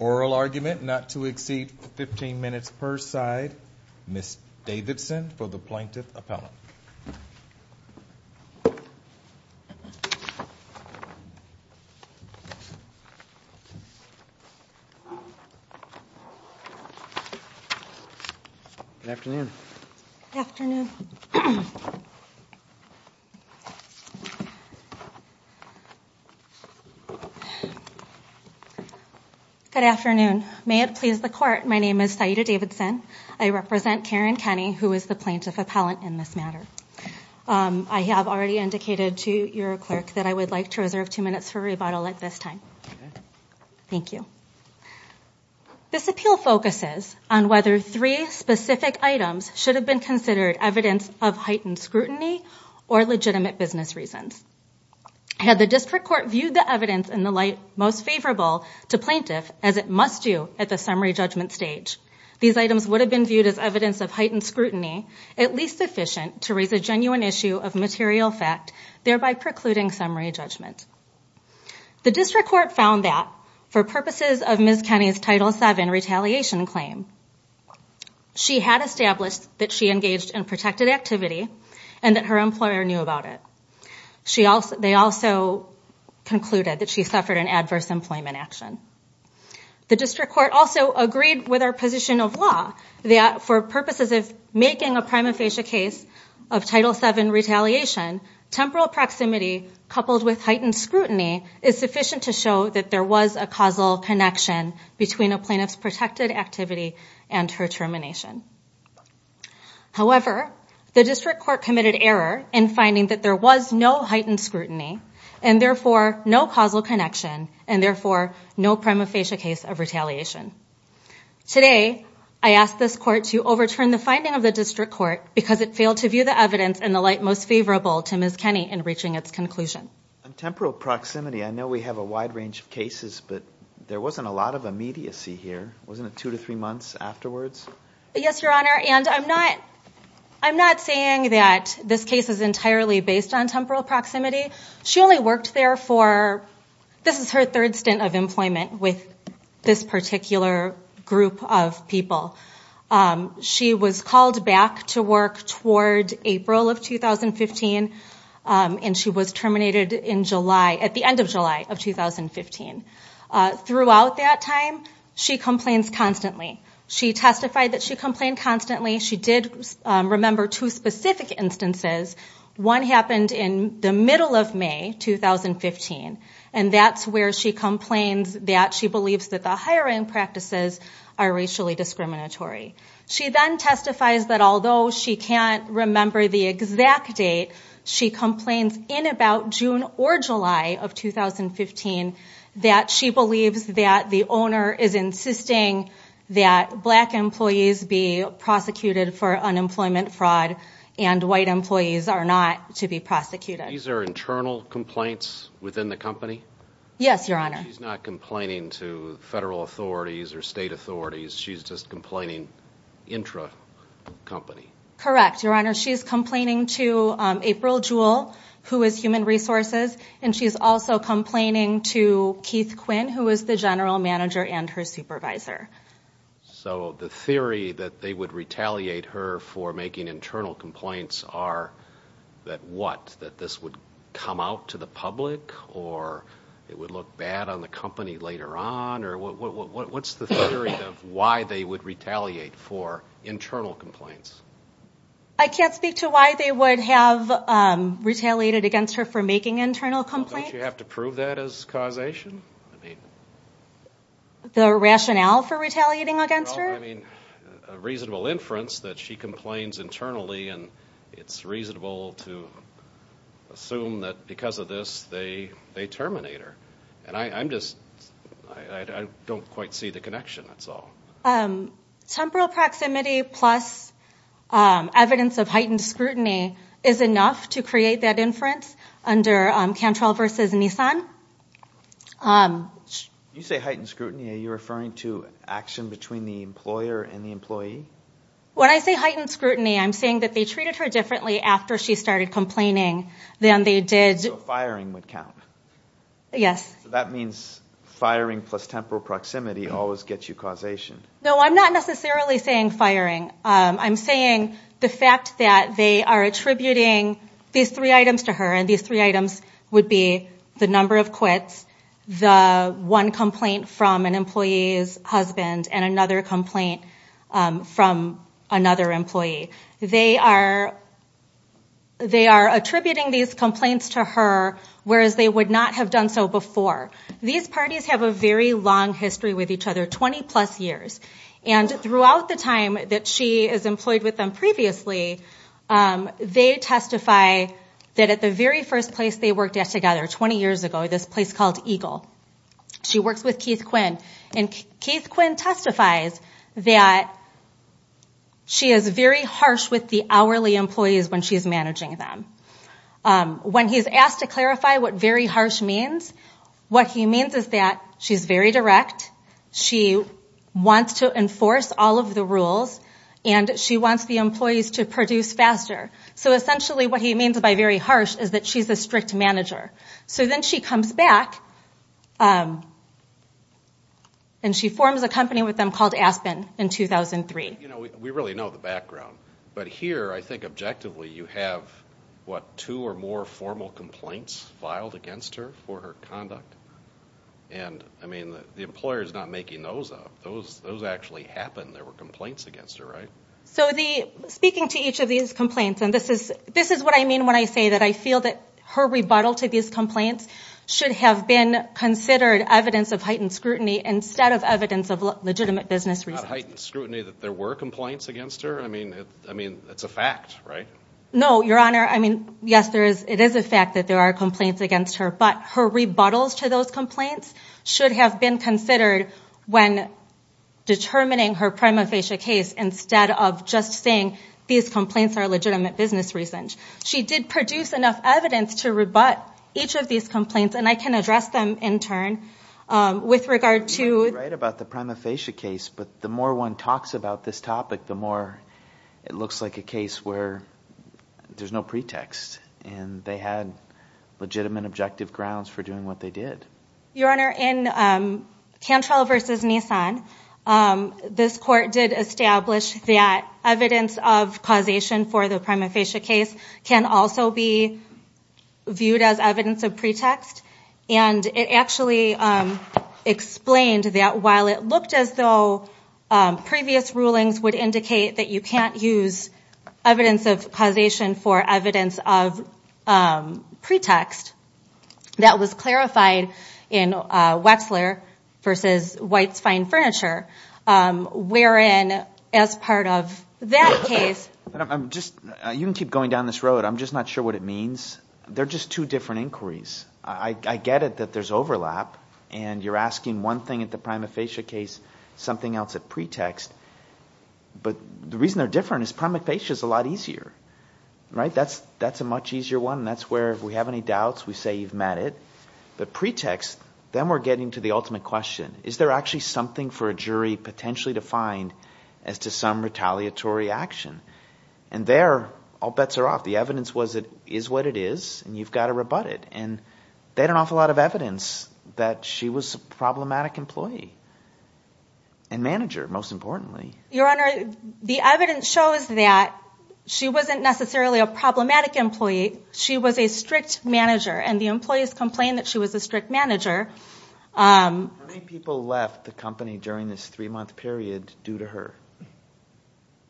Oral argument not to exceed 15 minutes per side, Ms. Davidson for the Plaintiff Appellant. Good afternoon. Good afternoon. Good afternoon. May it please the court, my name is Saida Davidson. I represent Karen Kenney, who is the Plaintiff Appellant in this matter. I have already indicated to your clerk that I would like to reserve two minutes for rebuttal at this time. Thank you. This appeal focuses on whether three specific items should have been considered evidence of heightened scrutiny or legitimate business reasons. Had the district court viewed the evidence in the light most favorable to plaintiff as it must do at the summary judgment stage, these items would have been viewed as evidence of heightened scrutiny, at least sufficient to raise a genuine issue of material fact, thereby precluding summary judgment. The district court found that for purposes of Ms. Kenney's Title VII retaliation claim, she had established that she engaged in protected activity and that her employer knew about it. They also concluded that she suffered an adverse employment action. The district court also agreed with our position of law that for purposes of making a prima facie case of Title VII retaliation, temporal proximity coupled with heightened scrutiny is sufficient to show that there was a causal connection between a plaintiff's protected activity and her termination. However, the district court committed error in finding that there was no heightened scrutiny, and therefore no causal connection, and therefore no prima facie case of retaliation. Today, I ask this court to overturn the finding of the district court because it failed to view the evidence in the light most favorable to Ms. Kenney in reaching its conclusion. On temporal proximity, I know we have a wide range of cases, but there wasn't a lot of immediacy here. Wasn't it two to three months afterwards? Yes, Your Honor, and I'm not saying that this case is entirely based on temporal proximity. She only worked there for, this is her third stint of employment with this particular group of people. She was called back to work toward April of 2015, and she was terminated at the end of July of 2015. Throughout that time, she complains constantly. She testified that she complained constantly. She did remember two specific instances. One happened in the middle of May 2015, and that's where she complains that she believes that the hiring practices are racially discriminatory. She then testifies that although she can't remember the exact date, she complains in about June or July of 2015 that she believes that the owner is insisting that black employees be prosecuted for unemployment fraud and white employees are not to be prosecuted. These are internal complaints within the company? Yes, Your Honor. She's not complaining to federal authorities or state authorities. She's just complaining intra-company. Correct, Your Honor. She's complaining to April Jewell, who is human resources, and she's also complaining to Keith Quinn, who is the general manager and her supervisor. So the theory that they would retaliate her for making internal complaints are that what? That this would come out to the public or it would look bad on the company later on? What's the theory of why they would retaliate for internal complaints? I can't speak to why they would have retaliated against her for making internal complaints. Don't you have to prove that as causation? The rationale for retaliating against her? A reasonable inference that she complains internally and it's reasonable to assume that because of this they terminate her. I don't quite see the connection, that's all. Temporal proximity plus evidence of heightened scrutiny is enough to create that inference under Cantrell v. Nissan. You say heightened scrutiny, are you referring to action between the employer and the employee? When I say heightened scrutiny, I'm saying that they treated her differently after she started complaining than they did... So firing would count? Yes. So that means firing plus temporal proximity always gets you causation? No, I'm not necessarily saying firing. I'm saying the fact that they are attributing these three items to her, and these three items would be the number of quits, the one complaint from an employee's husband, and another complaint from another employee. They are attributing these complaints to her, whereas they would not have done so before. These parties have a very long history with each other, 20 plus years. And throughout the time that she is employed with them previously, they testify that at the very first place they worked at together 20 years ago, this place called Eagle, she works with Keith Quinn, and Keith Quinn testifies that she is very harsh with the hourly employees when she is managing them. When he is asked to clarify what very harsh means, what he means is that she is very direct, she wants to enforce all of the rules, and she wants the employees to produce faster. So essentially what he means by very harsh is that she is a strict manager. So then she comes back and she forms a company with them called Aspen in 2003. We really know the background, but here I think objectively you have two or more formal complaints filed against her for her conduct. The employer is not making those up. Those actually happened. There were complaints against her, right? So speaking to each of these complaints, and this is what I mean when I say that I feel that her rebuttal to these complaints should have been considered evidence of heightened scrutiny instead of evidence of legitimate business reasons. Not heightened scrutiny that there were complaints against her? I mean, it's a fact, right? No, Your Honor. I mean, yes, it is a fact that there are complaints against her, but her rebuttals to those complaints should have been considered when determining her prima facie case instead of just saying these complaints are legitimate business reasons. She did produce enough evidence to rebut each of these complaints, and I can address them in turn with regard to You're right about the prima facie case, but the more one talks about this topic, the more it looks like a case where there's no pretext, and they had legitimate objective grounds for doing what they did. Your Honor, in Cantrell v. Nissan, this court did establish that evidence of causation for the prima facie case can also be viewed as evidence of pretext, and it actually explained that while it looked as though previous rulings would indicate that you can't use evidence of causation for evidence of pretext, that was clarified in Wexler v. White's Fine Furniture, wherein as part of that case You can keep going down this road, I'm just not sure what it means. They're just two different inquiries. I get it that there's overlap, and you're asking one thing at the prima facie case, something else at pretext. But the reason they're different is prima facie is a lot easier. That's a much easier one, and that's where if we have any doubts, we say you've met it. But pretext, then we're getting to the ultimate question. Is there actually something for a jury potentially to find as to some retaliatory action? And there, all bets are off. The evidence is what it is, and you've got to rebut it. And they had an awful lot of evidence that she was a problematic employee and manager, most importantly. Your Honor, the evidence shows that she wasn't necessarily a problematic employee. She was a strict manager, and the employees complained that she was a strict manager. How many people left the company during this three-month period due to her?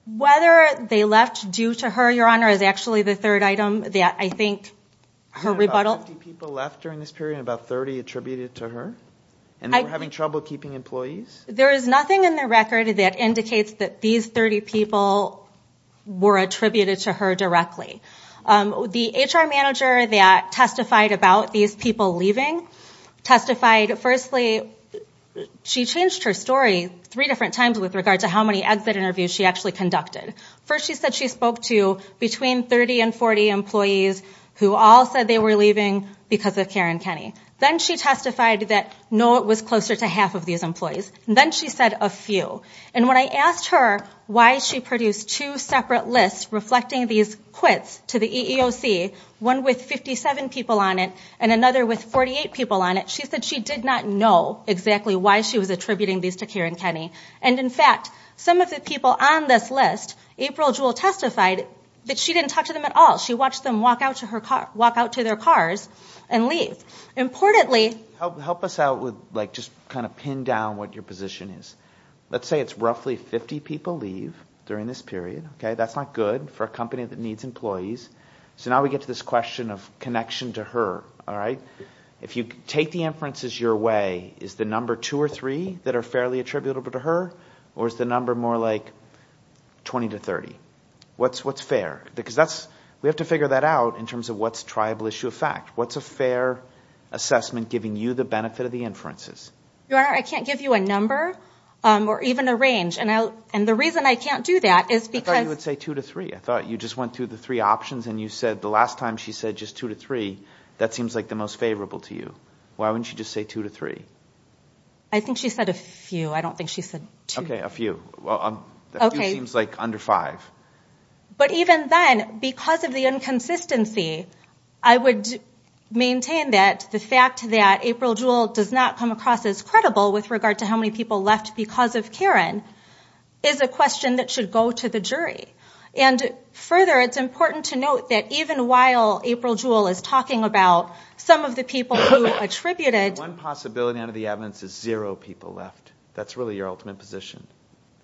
Whether they left due to her, Your Honor, is actually the third item that I think her rebuttal There were 50 people left during this period and about 30 attributed to her? And they were having trouble keeping employees? There is nothing in the record that indicates that these 30 people were attributed to her directly. The HR manager that testified about these people leaving testified, firstly, she changed her story three different times with regard to how many exit interviews she actually conducted. First, she said she spoke to between 30 and 40 employees who all said they were leaving because of Karen Kenney. Then she testified that no, it was closer to half of these employees. Then she said a few. And when I asked her why she produced two separate lists reflecting these quits to the EEOC, one with 57 people on it and another with 48 people on it, she said she did not know exactly why she was attributing these to Karen Kenney. And in fact, some of the people on this list, April Jewell testified that she didn't talk to them at all. She watched them walk out to their cars and leave. Help us out with just kind of pin down what your position is. Let's say it's roughly 50 people leave during this period. That's not good for a company that needs employees. So now we get to this question of connection to her. If you take the inferences your way, is the number two or three that are fairly attributable to her? Or is the number more like 20 to 30? What's fair? Because we have to figure that out in terms of what's triable issue of fact. What's a fair assessment giving you the benefit of the inferences? Your Honor, I can't give you a number or even a range. And the reason I can't do that is because – I thought you would say two to three. I thought you just went through the three options and you said the last time she said just two to three, that seems like the most favorable to you. Why wouldn't you just say two to three? I think she said a few. I don't think she said two. Okay, a few. Well, a few seems like under five. But even then, because of the inconsistency, I would maintain that the fact that April Jewell does not come across as credible with regard to how many people left because of Karen is a question that should go to the jury. And further, it's important to note that even while April Jewell is talking about some of the people who attributed – One possibility under the evidence is zero people left. That's really your ultimate position.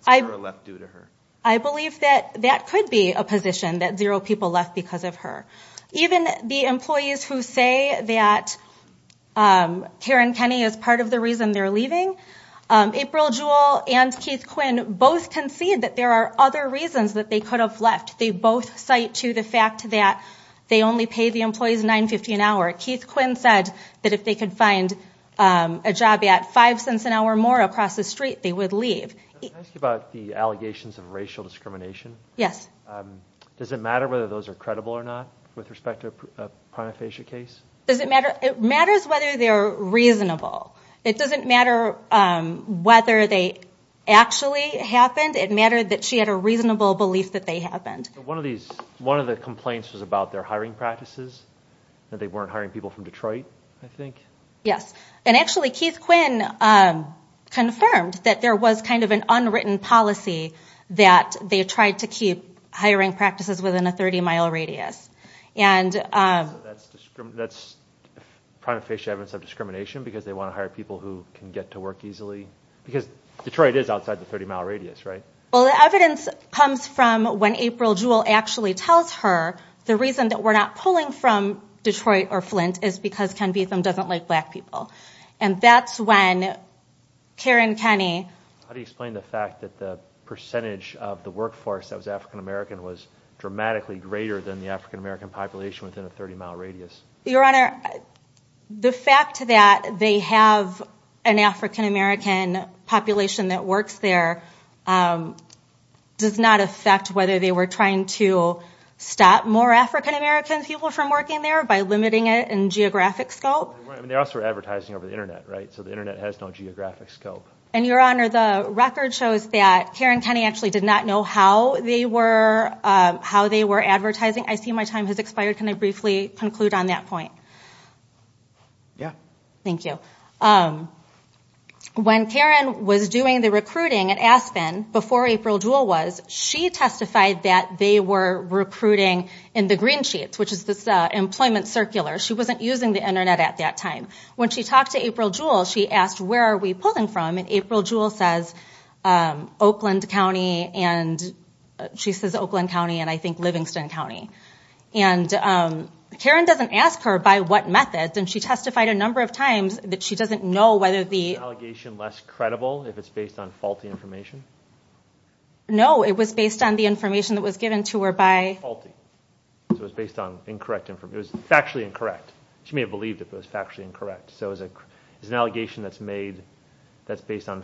Zero left due to her. I believe that that could be a position, that zero people left because of her. Even the employees who say that Karen Kenney is part of the reason they're leaving, April Jewell and Keith Quinn both concede that there are other reasons that they could have left. They both cite to the fact that they only pay the employees $9.50 an hour. Keith Quinn said that if they could find a job at five cents an hour more across the street, they would leave. Can I ask you about the allegations of racial discrimination? Yes. Does it matter whether those are credible or not with respect to a prima facie case? It matters whether they're reasonable. It doesn't matter whether they actually happened. It mattered that she had a reasonable belief that they happened. One of the complaints was about their hiring practices, that they weren't hiring people from Detroit, I think. Yes. And actually, Keith Quinn confirmed that there was kind of an unwritten policy that they tried to keep hiring practices within a 30-mile radius. So that's prima facie evidence of discrimination because they want to hire people who can get to work easily? Because Detroit is outside the 30-mile radius, right? Well, the evidence comes from when April Jewell actually tells her, the reason that we're not pulling from Detroit or Flint is because Ken Beatham doesn't like black people. And that's when Karen Kenney... How do you explain the fact that the percentage of the workforce that was African-American was dramatically greater than the African-American population within a 30-mile radius? Your Honor, the fact that they have an African-American population that works there does not affect whether they were trying to stop more African-American people from working there by limiting it in geographic scope? They also were advertising over the Internet, right? So the Internet has no geographic scope. And Your Honor, the record shows that Karen Kenney actually did not know how they were advertising. I see my time has expired. Can I briefly conclude on that point? Yeah. Thank you. When Karen was doing the recruiting at Aspen, before April Jewell was, she testified that they were recruiting in the green sheets, which is this employment circular. She wasn't using the Internet at that time. When she talked to April Jewell, she asked, where are we pulling from? And April Jewell says Oakland County, and she says Oakland County, and I think Livingston County. And Karen doesn't ask her by what method, and she testified a number of times that she doesn't know whether the... Was the allegation less credible if it's based on faulty information? No, it was based on the information that was given to her by... Faulty. So it was based on incorrect information. It was factually incorrect. She may have believed it was factually incorrect. So is an allegation that's made that's based on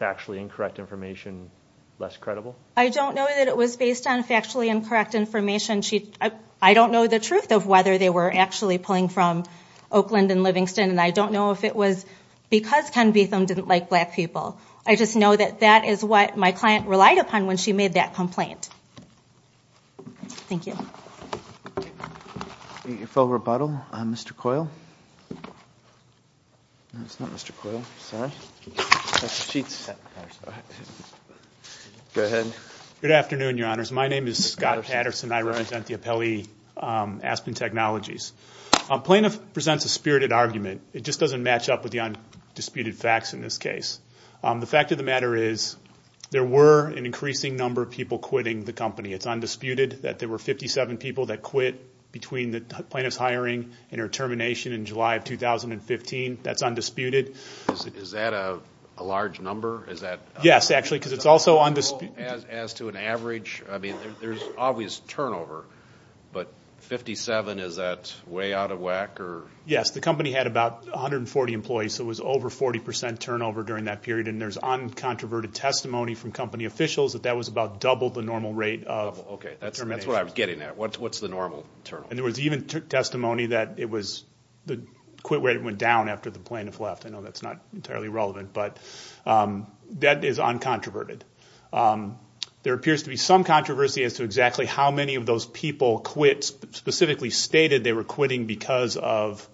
factually incorrect information less credible? I don't know that it was based on factually incorrect information. I don't know the truth of whether they were actually pulling from Oakland and Livingston, and I don't know if it was because Ken Beetham didn't like black people. I just know that that is what my client relied upon when she made that complaint. Thank you. Your full rebuttal, Mr. Coyle. No, it's not Mr. Coyle. Sorry. Go ahead. Good afternoon, Your Honors. My name is Scott Patterson. I represent the appellee, Aspen Technologies. Plaintiff presents a spirited argument. It just doesn't match up with the undisputed facts in this case. The fact of the matter is there were an increasing number of people quitting the company. It's undisputed that there were 57 people that quit between the plaintiff's hiring and her termination in July of 2015. That's undisputed. Is that a large number? Yes, actually, because it's also undisputed. As to an average, I mean, there's always turnover, but 57, is that way out of whack? Yes, the company had about 140 employees, so it was over 40 percent turnover during that period, and there's uncontroverted testimony from company officials that that was about double the normal rate of terminations. Okay, that's what I'm getting at. What's the normal turnover? And there was even testimony that it was the quit rate went down after the plaintiff left. I know that's not entirely relevant, but that is uncontroverted. There appears to be some controversy as to exactly how many of those people quit, specifically stated they were quitting because of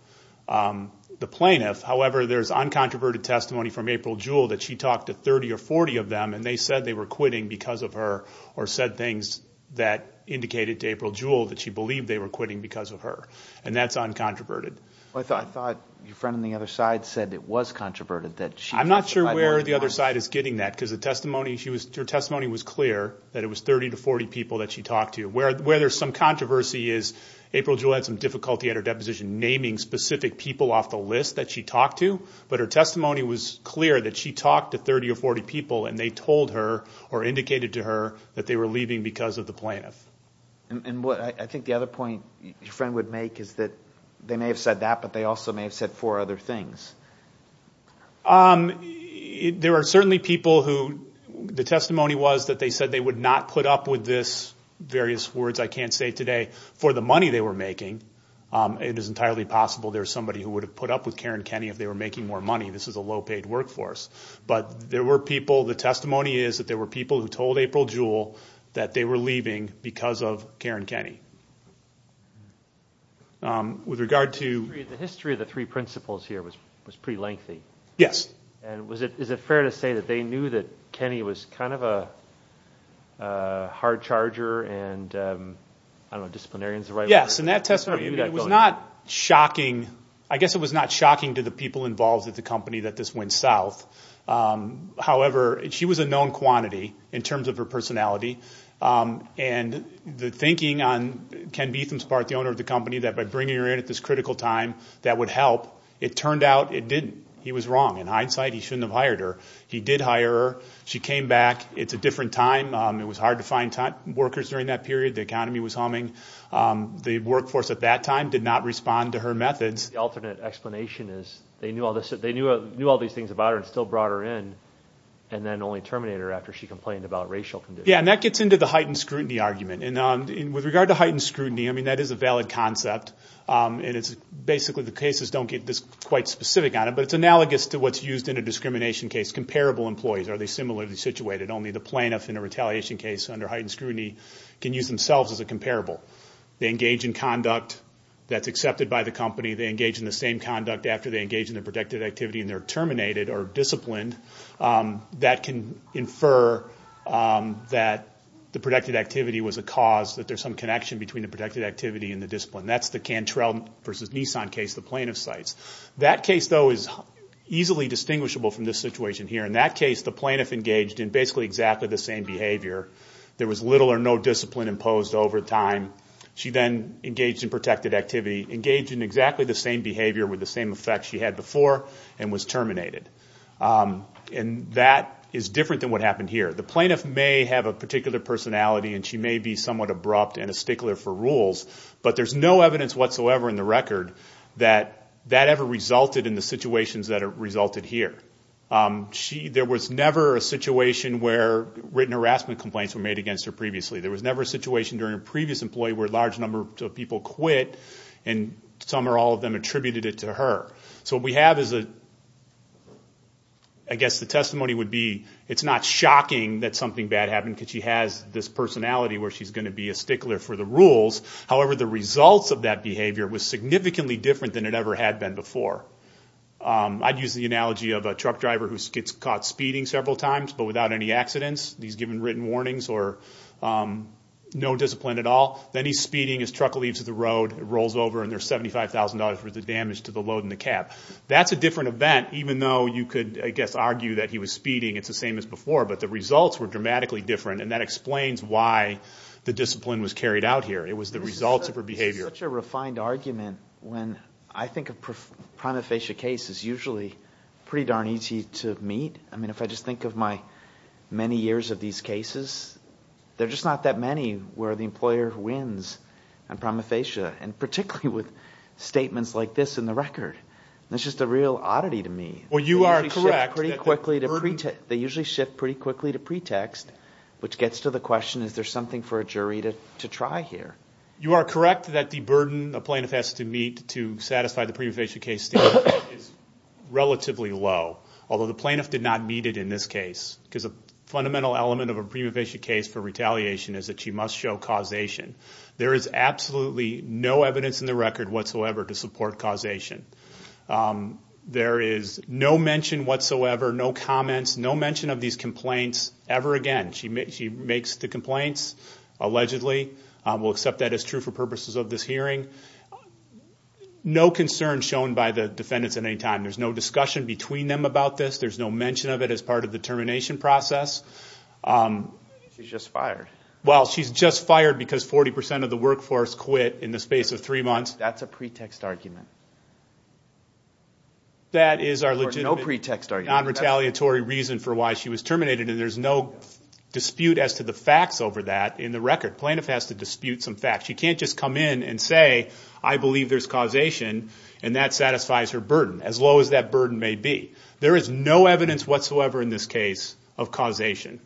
the plaintiff. However, there's uncontroverted testimony from April Jewell that she talked to 30 or 40 of them, and they said they were quitting because of her or said things that indicated to April Jewell that she believed they were quitting because of her, and that's uncontroverted. I thought your friend on the other side said it was controverted. I'm not sure where the other side is getting that because her testimony was clear that it was 30 to 40 people that she talked to. Where there's some controversy is April Jewell had some difficulty at her deposition naming specific people off the list that she talked to, but her testimony was clear that she talked to 30 or 40 people and they told her or indicated to her that they were leaving because of the plaintiff. And I think the other point your friend would make is that they may have said that, but they also may have said four other things. There are certainly people who the testimony was that they said they would not put up with this, various words I can't say today, for the money they were making. It is entirely possible there's somebody who would have put up with Karen Kenney if they were making more money. This is a low-paid workforce. But there were people, the testimony is that there were people who told April Jewell that they were leaving because of Karen Kenney. The history of the three principles here was pretty lengthy. Yes. And is it fair to say that they knew that Kenney was kind of a hard charger and I don't know, disciplinarian is the right word. Yes, and that testimony, it was not shocking. I guess it was not shocking to the people involved at the company that this went south. However, she was a known quantity in terms of her personality. And the thinking on Ken Beetham's part, the owner of the company, that by bringing her in at this critical time that would help, it turned out it didn't. He was wrong. In hindsight, he shouldn't have hired her. He did hire her. She came back. It's a different time. It was hard to find workers during that period. The economy was humming. The workforce at that time did not respond to her methods. The alternate explanation is they knew all these things about her and still brought her in and then only terminated her after she complained about racial conditions. Yes, and that gets into the heightened scrutiny argument. With regard to heightened scrutiny, I mean, that is a valid concept. Basically the cases don't get this quite specific on it, but it's analogous to what's used in a discrimination case, comparable employees. Are they similarly situated? Only the plaintiff in a retaliation case under heightened scrutiny can use themselves as a comparable. They engage in conduct that's accepted by the company. They engage in the same conduct after they engage in the protected activity and they're terminated or disciplined. That can infer that the protected activity was a cause, that there's some connection between the protected activity and the discipline. That's the Cantrell versus Nissan case the plaintiff cites. That case, though, is easily distinguishable from this situation here. In that case, the plaintiff engaged in basically exactly the same behavior. There was little or no discipline imposed over time. She then engaged in protected activity, engaged in exactly the same behavior with the same effects she had before and was terminated. And that is different than what happened here. The plaintiff may have a particular personality and she may be somewhat abrupt and a stickler for rules, but there's no evidence whatsoever in the record that that ever resulted in the situations that resulted here. There was never a situation where written harassment complaints were made against her previously. There was never a situation during a previous employee where a large number of people quit and some or all of them attributed it to her. So what we have is a, I guess the testimony would be it's not shocking that something bad happened because she has this personality where she's going to be a stickler for the rules. However, the results of that behavior was significantly different than it ever had been before. I'd use the analogy of a truck driver who gets caught speeding several times but without any accidents. He's given written warnings or no discipline at all. Then he's speeding, his truck leaves the road, rolls over, and there's $75,000 worth of damage to the load and the cab. That's a different event even though you could, I guess, argue that he was speeding. It's the same as before, but the results were dramatically different, and that explains why the discipline was carried out here. It was the results of her behavior. It's such a refined argument when I think a prima facie case is usually pretty darn easy to meet. If I just think of my many years of these cases, there are just not that many where the employer wins on prima facie and particularly with statements like this in the record. That's just a real oddity to me. Well, you are correct. They usually shift pretty quickly to pretext, which gets to the question, is there something for a jury to try here? You are correct that the burden a plaintiff has to meet to satisfy the prima facie case is relatively low, although the plaintiff did not meet it in this case because a fundamental element of a prima facie case for retaliation is that she must show causation. There is absolutely no evidence in the record whatsoever to support causation. There is no mention whatsoever, no comments, no mention of these complaints ever again. She makes the complaints, allegedly. We'll accept that as true for purposes of this hearing. No concern shown by the defendants at any time. There's no discussion between them about this. There's no mention of it as part of the termination process. She's just fired. Well, she's just fired because 40% of the workforce quit in the space of three months. That's a pretext argument. That is our legitimate non-retaliatory reason for why she was terminated, and there's no dispute as to the facts over that in the record. The plaintiff has to dispute some facts. She can't just come in and say, I believe there's causation, and that satisfies her burden, as low as that burden may be. There is no evidence whatsoever in this case of causation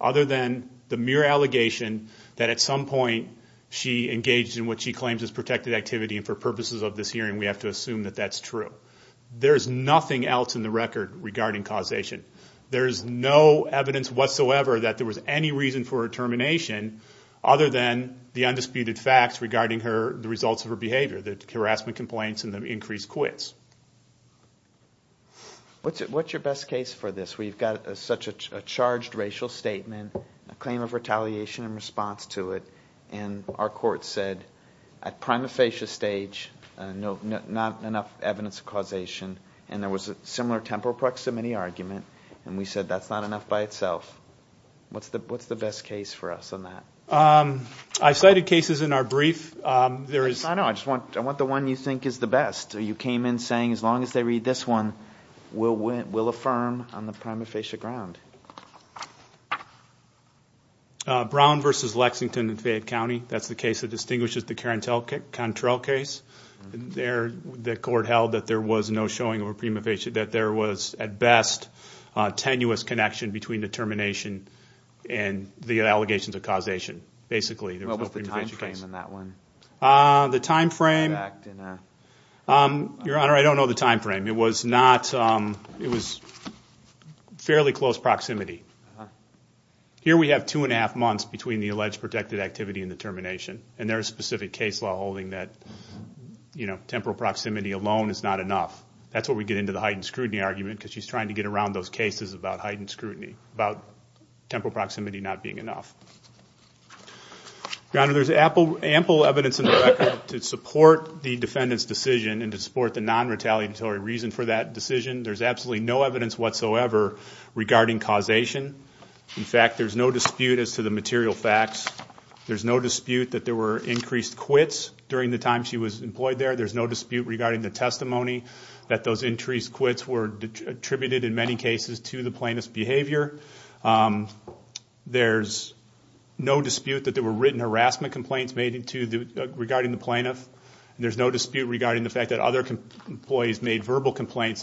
other than the mere allegation that at some point she engaged in what she claims is protected activity, and for purposes of this hearing we have to assume that that's true. There is nothing else in the record regarding causation. There is no evidence whatsoever that there was any reason for her termination other than the undisputed facts regarding the results of her behavior, the harassment complaints and the increased quits. What's your best case for this where you've got such a charged racial statement, a claim of retaliation in response to it, and our court said at prima facie stage not enough evidence of causation, and there was a similar temporal proximity argument, and we said that's not enough by itself. What's the best case for us on that? I cited cases in our brief. I know. I just want the one you think is the best. You came in saying as long as they read this one, we'll affirm on the prima facie ground. Brown v. Lexington in Fayette County. That's the case that distinguishes the Carentel-Contrell case. The court held that there was no showing of a prima facie, that there was at best a tenuous connection between the termination and the allegations of causation, basically. What was the time frame in that one? The time frame? Your Honor, I don't know the time frame. It was fairly close proximity. Here we have two and a half months between the alleged protected activity and the termination, and there is specific case law holding that temporal proximity alone is not enough. That's where we get into the heightened scrutiny argument because she's trying to get around those cases about heightened scrutiny, about temporal proximity not being enough. Your Honor, there's ample evidence in the record to support the defendant's decision and to support the non-retaliatory reason for that decision. There's absolutely no evidence whatsoever regarding causation. In fact, there's no dispute as to the material facts. There's no dispute that there were increased quits during the time she was employed there. There's no dispute regarding the testimony that those increased quits were attributed, in many cases, to the plaintiff's behavior. There's no dispute that there were written harassment complaints made regarding the plaintiff. There's no dispute regarding the fact that other employees made verbal complaints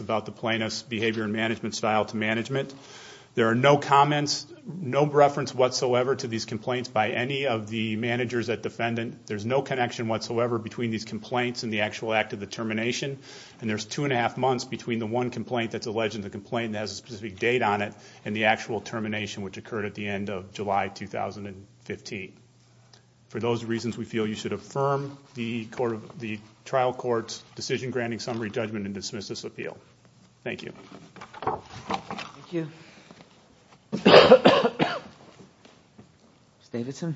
There are no comments, no reference whatsoever to these complaints by any of the managers at defendant. There's no connection whatsoever between these complaints and the actual act of the termination, and there's two and a half months between the one complaint that's alleged and the complaint that has a specific date on it and the actual termination which occurred at the end of July 2015. For those reasons, we feel you should affirm the trial court's decision-granting summary judgment and dismiss this appeal. Thank you. Thank you. Ms. Davidson.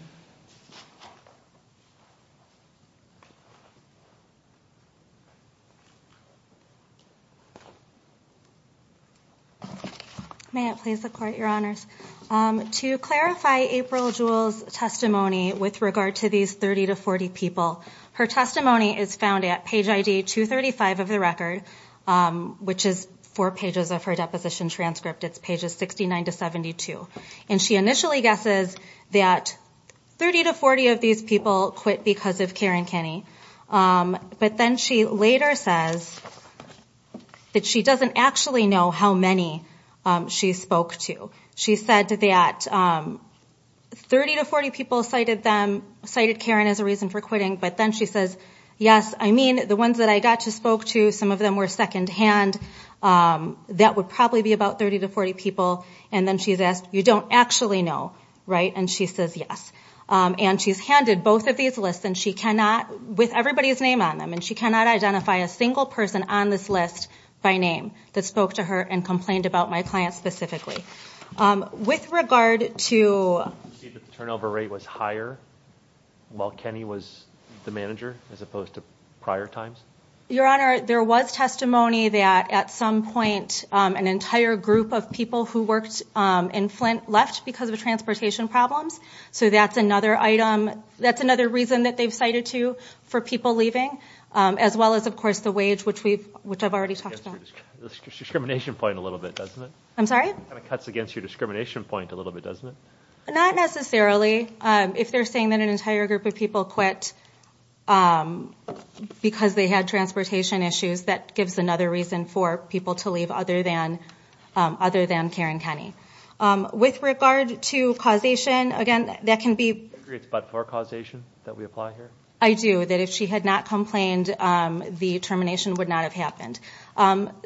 May it please the court, Your Honors. To clarify April Jewell's testimony with regard to these 30 to 40 people, her testimony is found at page ID 235 of the record, which is four pages of her deposition transcript. It's pages 69 to 72. And she initially guesses that 30 to 40 of these people quit because of Karen Kinney. But then she later says that she doesn't actually know how many she spoke to. She said that 30 to 40 people cited Karen as a reason for quitting, but then she says, yes, I mean, the ones that I got to spoke to, some of them were secondhand. That would probably be about 30 to 40 people. And then she's asked, you don't actually know, right? And she says yes. And she's handed both of these lists with everybody's name on them, and she cannot identify a single person on this list by name that spoke to her and complained about my client specifically. With regard to. Turnover rate was higher while Kenny was the manager as opposed to prior times. Your Honor, there was testimony that at some point an entire group of people who worked in Flint left because of transportation problems. So that's another item. That's another reason that they've cited to for people leaving, as well as, of course, the wage, which we've which I've already talked about. Discrimination point a little bit, doesn't it? I'm sorry? It cuts against your discrimination point a little bit, doesn't it? Not necessarily. If they're saying that an entire group of people quit because they had transportation issues, that gives another reason for people to leave other than Karen Kenny. With regard to causation, again, that can be. You agree it's but-for causation that we apply here? I do, that if she had not complained, the termination would not have happened.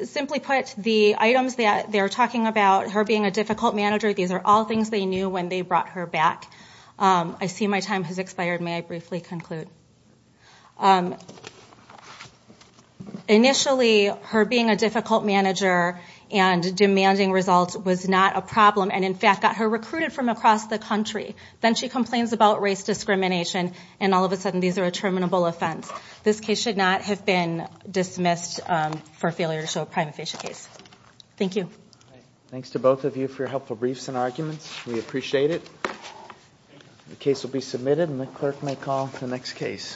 Simply put, the items that they're talking about, her being a difficult manager, these are all things they knew when they brought her back. I see my time has expired. May I briefly conclude? Initially, her being a difficult manager and demanding results was not a problem and, in fact, got her recruited from across the country. Then she complains about race discrimination, and all of a sudden these are a terminable offense. This case should not have been dismissed for failure to show a prima facie case. Thank you. Thanks to both of you for your helpful briefs and arguments. We appreciate it. The case will be submitted, and the clerk may call the next case.